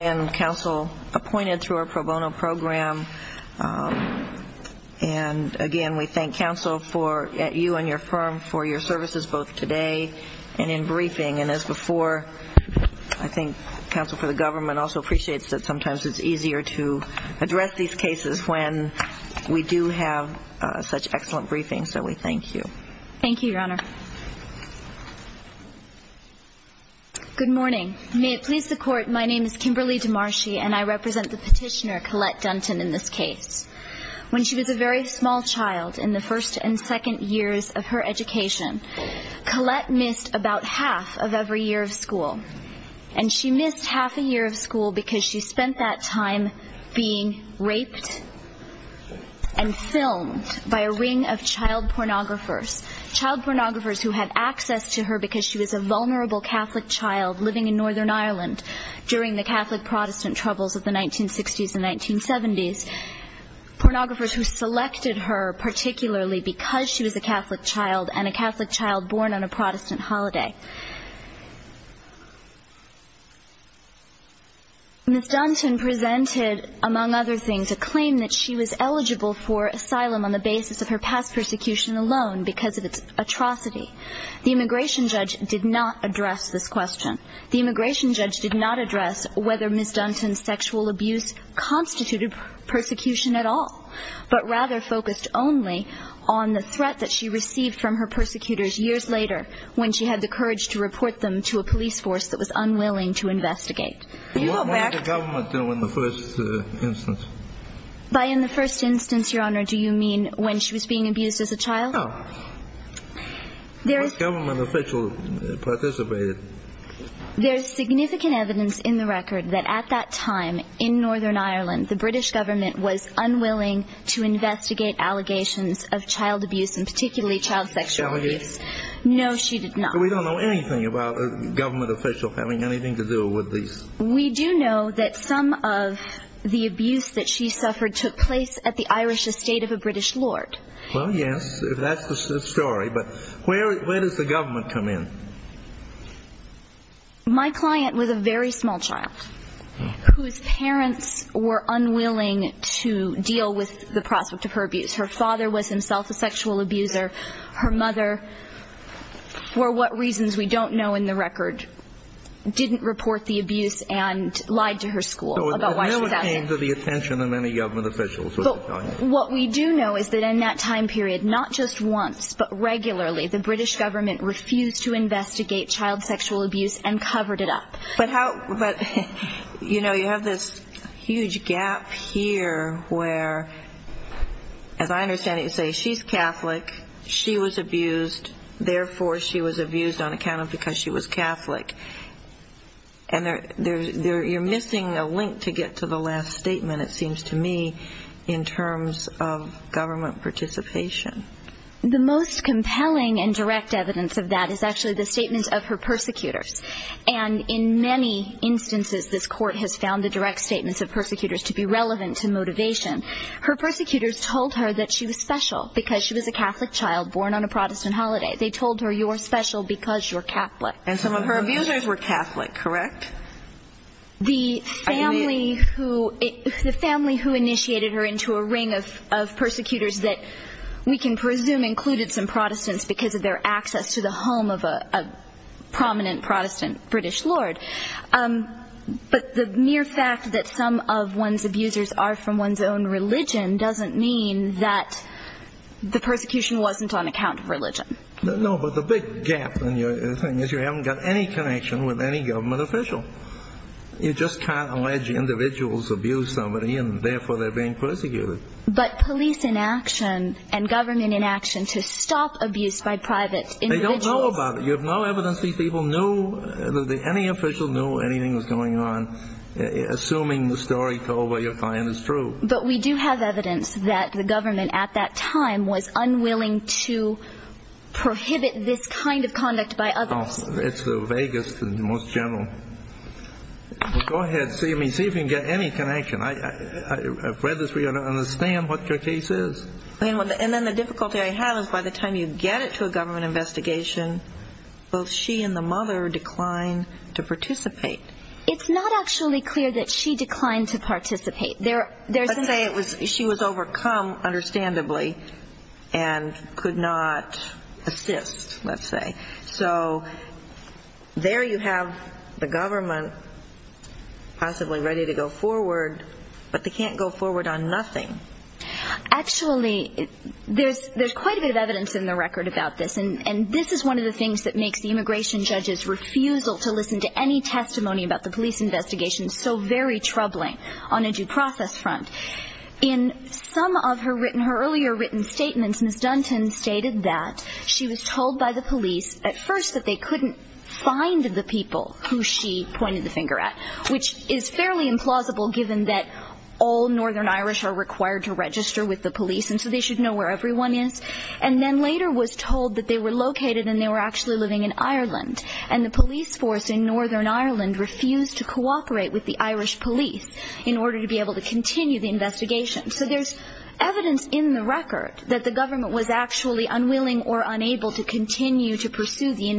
and counsel appointed through our pro bono program and again we thank counsel for at you and your firm for your services both today and in briefing and as before I think counsel for the government also appreciates that sometimes it's easier to address these cases when we do have such excellent briefings so we thank you thank you your honor good morning may it please the Demarcy and I represent the petitioner Colette Dunton in this case when she was a very small child in the first and second years of her education Colette missed about half of every year of school and she missed half a year of school because she spent that time being raped and filmed by a ring of child pornographers child pornographers who had access to her because she was a vulnerable Catholic child living in Northern Ireland during the Catholic Protestant troubles of the 1960s and 1970s pornographers who selected her particularly because she was a Catholic child and a Catholic child born on a Protestant holiday miss Dunton presented among other things a claim that she was eligible for asylum on the basis of her past persecution alone because of its atrocity the immigration judge did not address this question the immigration judge did not address whether miss Dunton sexual abuse constituted persecution at all but rather focused only on the threat that she received from her persecutors years later when she had the courage to report them to a police force that was unwilling to investigate by in the first instance your honor do you mean when she was being abused as a child there is government official participated there's significant evidence in the record that at that time in Northern Ireland the British government was unwilling to investigate allegations of child abuse and particularly child sexual abuse no she did not we don't know anything about a government official having anything to do with these we do know that some of the abuse that she suffered took place at the Irish estate of a British Lord well yes if that's the story but where does the government come in my client was a very small child whose parents were unwilling to deal with the prospect of her abuse her father was himself a sexual abuser her mother for what reasons we don't know in the record didn't report the abuse and lied to her school about what came to the attention of any government officials what we do know is that in that time period not just once but regularly the British government refused to investigate child sexual abuse and covered it up but how but you know you have this huge gap here where as I understand it you say she's Catholic she was abused therefore she was abused on account of because she was Catholic and they're there you're missing a link to get to the last statement it seems to me in terms of participation the most compelling and direct evidence of that is actually the statement of her persecutors and in many instances this court has found the direct statements of persecutors to be relevant to motivation her persecutors told her that she was special because she was a Catholic child born on a Protestant holiday they told her you're special because you're Catholic and some of her abusers were Catholic correct the family who the family who initiated her to a ring of persecutors that we can presume included some Protestants because of their access to the home of a prominent Protestant British Lord but the mere fact that some of one's abusers are from one's own religion doesn't mean that the persecution wasn't on account of religion no but the big gap in your thing is you haven't got any connection with any government official you just can't allege individuals abuse somebody and therefore they're being persecuted but police inaction and government inaction to stop abuse by private individuals they don't know about it you have no evidence these people knew that any official knew anything was going on assuming the story told by your client is true but we do have evidence that the government at that time was unwilling to prohibit this kind of conduct by others it's the vaguest and most general go ahead see me see if you can get any connection I I've read this we understand what your case is and then the difficulty I have is by the time you get it to a government investigation both she and the mother declined to participate it's not actually clear that she declined to participate there there's a say it was she was overcome understandably and could not assist let's say so there you have the government possibly ready to go forward but they can't go forward on nothing actually there's there's quite a bit of evidence in the record about this and and this is one of the things that makes the immigration judges refusal to listen to any testimony about the police investigation so very troubling on a due process front in some of her written her earlier written statements miss Dunton stated that she was told by the police at first that they couldn't find the people who she implausible given that all Northern Irish are required to register with the police and so they should know where everyone is and then later was told that they were located and they were actually living in Ireland and the police force in Northern Ireland refused to cooperate with the Irish police in order to be able to continue the investigation so there's evidence in the record that the government was actually unwilling or unable to continue to pursue the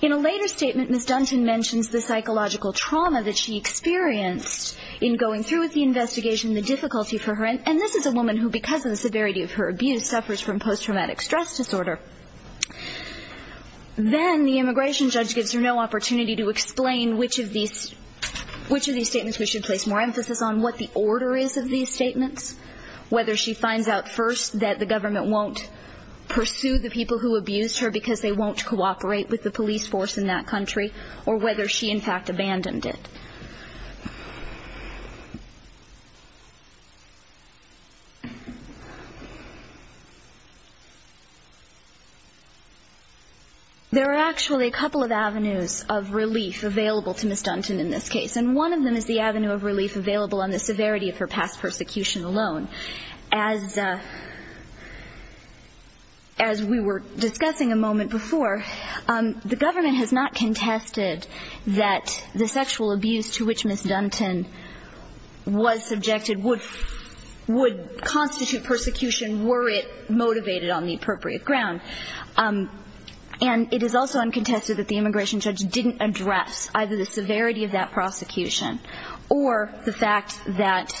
in a later statement miss Dunton mentions the psychological trauma that she experienced in going through with the investigation the difficulty for her and this is a woman who because of the severity of her abuse suffers from post-traumatic stress disorder then the immigration judge gives her no opportunity to explain which of these which of these statements we should place more emphasis on what the order is of these statements whether she finds out first that the government won't pursue the people who abused her because they won't cooperate with the police force in that country or whether she in fact abandoned it there are actually a couple of avenues of relief available to miss Dunton in this case and one of them is the avenue of relief available on the severity of past persecution alone as we were discussing a moment before the government has not contested that the sexual abuse to which miss Dunton was subjected would would constitute persecution were it motivated on the appropriate ground and it is also uncontested that the immigration judge didn't address either the severity of that prosecution or the fact that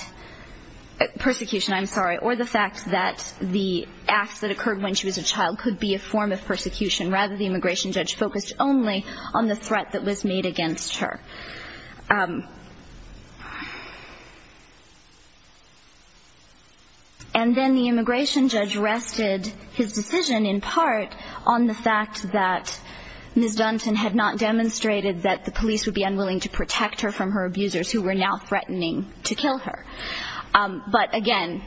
persecution I'm sorry or the fact that the acts that occurred when she was a child could be a form of persecution rather the immigration judge focused only on the threat that was made against her and then the immigration judge arrested his decision in part on the fact that miss Dunton had not demonstrated that the police would be unwilling to protect her from her abusers who were now threatening to kill her but again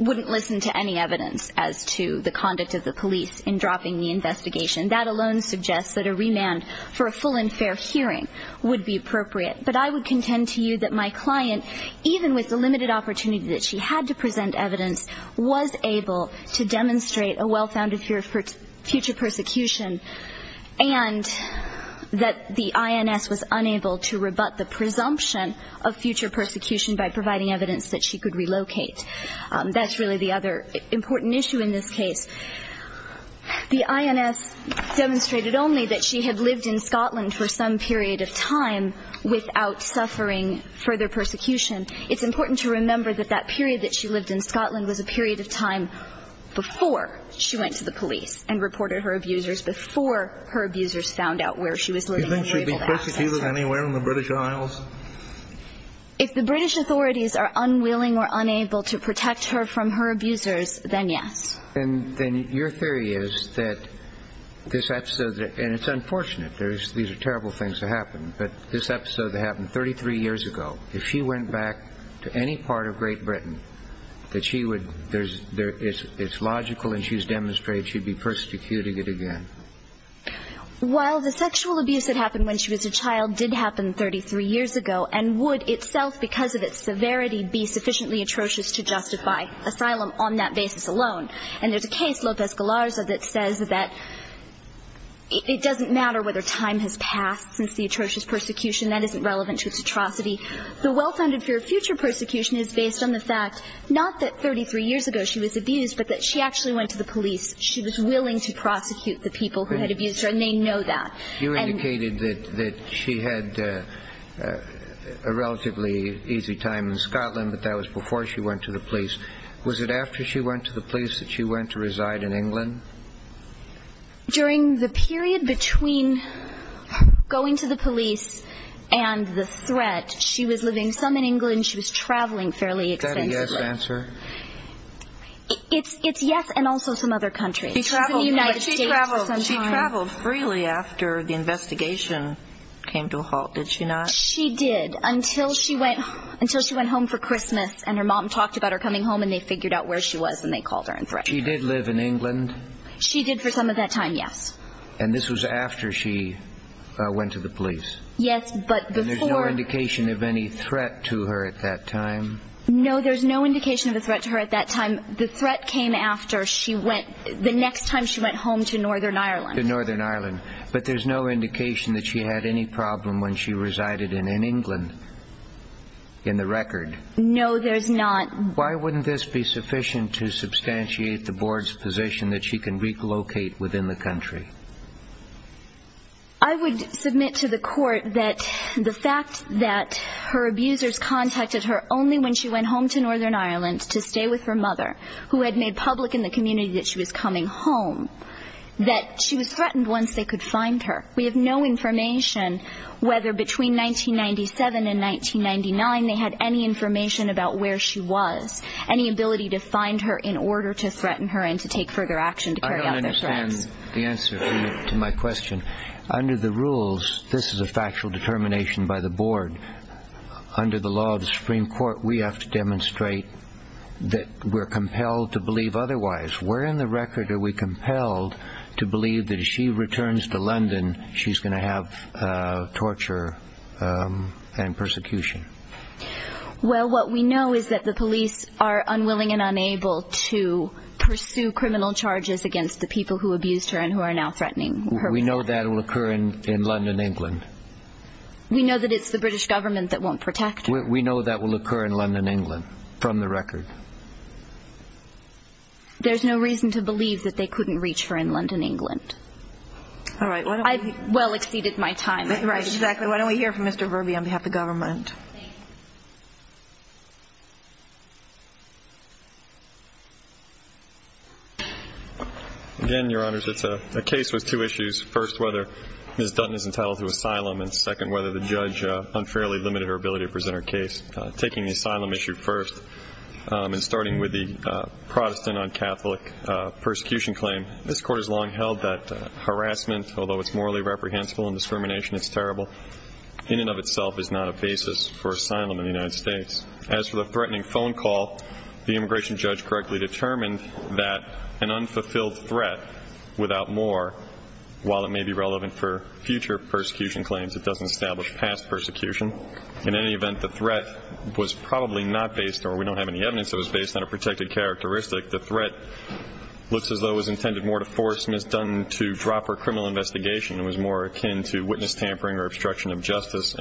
wouldn't listen to any evidence as to the conduct of the police in dropping the investigation that alone suggests that a remand for a full and fair hearing would be appropriate but I would contend to you that my client even with the limited opportunity that she had to demonstrate a well-founded fear for future persecution and that the INS was unable to rebut the presumption of future persecution by providing evidence that she could relocate that's really the other important issue in this case the INS demonstrated only that she had lived in Scotland for some period of time without suffering further persecution it's important to remember that that period that she lived in Scotland was a period of time before she went to the police and reported her abusers before her abusers found out where she was living. Do you think she'd be persecuted anywhere in the British Isles? If the British authorities are unwilling or unable to protect her from her abusers then yes. And then your theory is that this episode and it's unfortunate there's these are terrible things to happen but this episode happened 33 years ago if she went back to any part of Great Britain that she would there's there is it's logical and she's demonstrated she'd be persecuted again. While the sexual abuse that happened when she was a child did happen 33 years ago and would itself because of its severity be sufficiently atrocious to justify asylum on that basis alone and there's a case Lopez Galarza that says that it doesn't matter whether time has passed since the atrocious persecution that isn't relevant to its atrocity. The well-founded fear of future persecution is based on the fact not that 33 years ago she was abused but that she actually went to the police. She was willing to prosecute the people who had abused her and they know that. You indicated that that she had a relatively easy time in Scotland but that was before she went to the police. Was it after she went to the police that she went to reside in England? During the period between going to the police and the threat she was living some in England she was traveling fairly expensively. Is that a yes answer? It's yes and also some other countries. She traveled freely after the investigation came to a halt did she not? She did until she went until she went home for Christmas and her mom talked about her coming home and they figured out where she was and they called her in threat. She did live in England? She did for some of that time yes. And this was after she went to the police? No indication of any threat to her at that time? No there's no indication of a threat to her at that time. The threat came after she went the next time she went home to Northern Ireland. To Northern Ireland but there's no indication that she had any problem when she resided in in England in the record? No there's not. Why wouldn't this be sufficient to substantiate the board's position that she can relocate within the country? I would submit to the court that the fact that her abusers contacted her only when she went home to Northern Ireland to stay with her mother who had made public in the community that she was coming home that she was threatened once they could find her. We have no information whether between 1997 and 1999 they had any information about where she was any ability to find her in order to threaten her and to take further action to carry out their threats. I don't understand the answer to my question. Under the rules this is a factual determination by the board. Under the law of the Supreme Court we have to demonstrate that we're compelled to believe otherwise. Where in the record are we compelled to believe that if she returns to London she's going to have torture and persecution? Well what we know is that the police are unwilling and unable to pursue criminal charges against the people who abused her and are now threatening her. We know that will occur in London England. We know that it's the British government that won't protect her. We know that will occur in London England from the record. There's no reason to believe that they couldn't reach her in London England. I've well exceeded my time. Right exactly why don't we hear from Mr. Verby on behalf of the government. Again your honors it's a case with two issues. First whether Ms. Dutton is entitled to asylum and second whether the judge unfairly limited her ability to present her case. Taking the asylum issue first and starting with the Protestant on Catholic persecution claim. This court has long held that harassment although it's morally reprehensible and for asylum in the United States. As for the threatening phone call the immigration judge correctly determined that an unfulfilled threat without more while it may be relevant for future persecution claims it doesn't establish past persecution. In any event the threat was probably not based or we don't have any evidence that was based on a protected characteristic. The threat looks as though was intended more to force Ms. Dutton to drop her criminal investigation and was more akin to witness tampering or obstruction of is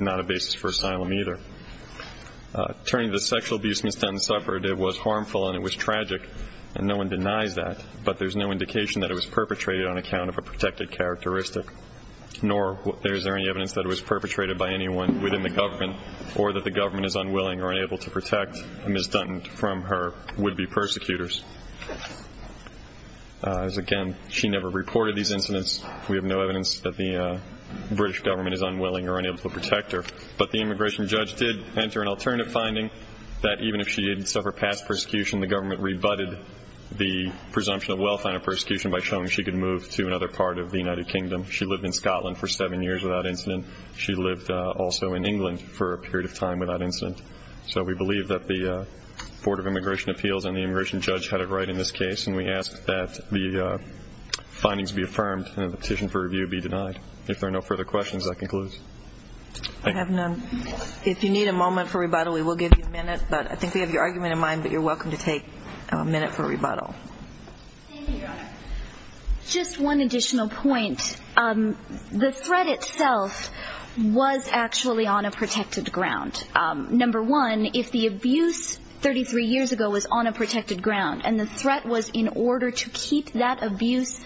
not a basis for asylum either. Turning to the sexual abuse Ms. Dutton suffered it was harmful and it was tragic and no one denies that but there's no indication that it was perpetrated on account of a protected characteristic nor is there any evidence that it was perpetrated by anyone within the government or that the government is unwilling or unable to protect Ms. Dutton from her would-be persecutors. As again she never reported these incidents we have no evidence that the British government is unwilling or unable to protect her but the immigration judge did enter an alternative finding that even if she didn't suffer past persecution the government rebutted the presumption of well-founded persecution by showing she could move to another part of the United Kingdom. She lived in Scotland for seven years without incident. She lived also in England for a period of time without incident. So we believe that the Board of Immigration Appeals and the immigration judge had it right in this case and we ask that the if there are no further questions I conclude. If you need a moment for rebuttal we will give you a minute but I think we have your argument in mind but you're welcome to take a minute for rebuttal. Just one additional point the threat itself was actually on a protected ground. Number one if the abuse 33 years ago was on a protected ground and the threat was in order to keep that abuse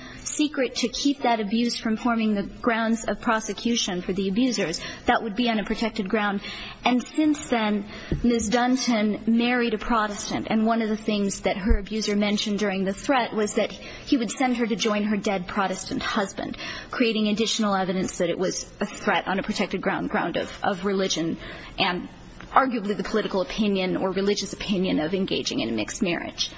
from forming the grounds of prosecution for the abusers that would be on a protected ground and since then Ms. Dunton married a Protestant and one of the things that her abuser mentioned during the threat was that he would send her to join her dead Protestant husband creating additional evidence that it was a threat on a protected ground of religion and arguably the political opinion or religious opinion of engaging in a mixed marriage.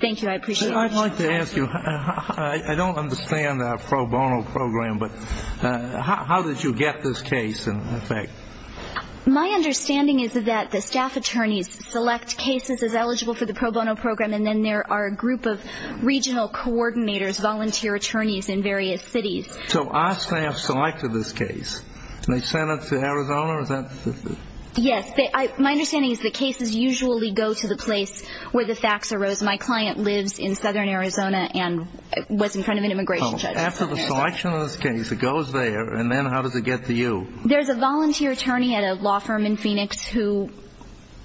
Thank you I like to ask you I don't understand our pro bono program but how did you get this case in effect? My understanding is that the staff attorneys select cases as eligible for the pro bono program and then there are a group of regional coordinators volunteer attorneys in various cities. So our staff selected this case and they sent it to Arizona? Yes my understanding is the cases usually go to the place where the facts arose. My client lives in southern Arizona and was in front of an immigration judge. After the selection of this case it goes there and then how does it get to you? There's a volunteer attorney at a law firm in Phoenix who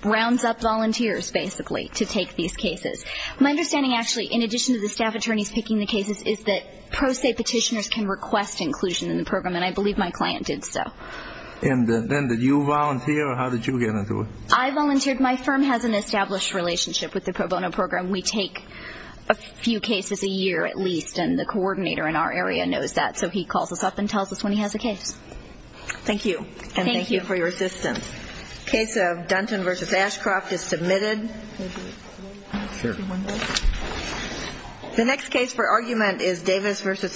rounds up volunteers basically to take these cases. My understanding actually in addition to the staff attorneys picking the cases is that pro se petitioners can request inclusion in the program and I believe my client did so. And then did you volunteer or how did you get into it? I volunteered my firm has an established relationship with the pro bono program. We take a few cases a year at least and the coordinator in our area knows that so he calls us up and tells us when he has a case. Thank you and thank you for your assistance. Case of Dunton versus Ashcroft is submitted. The next case for argument is Davis versus Ignacio.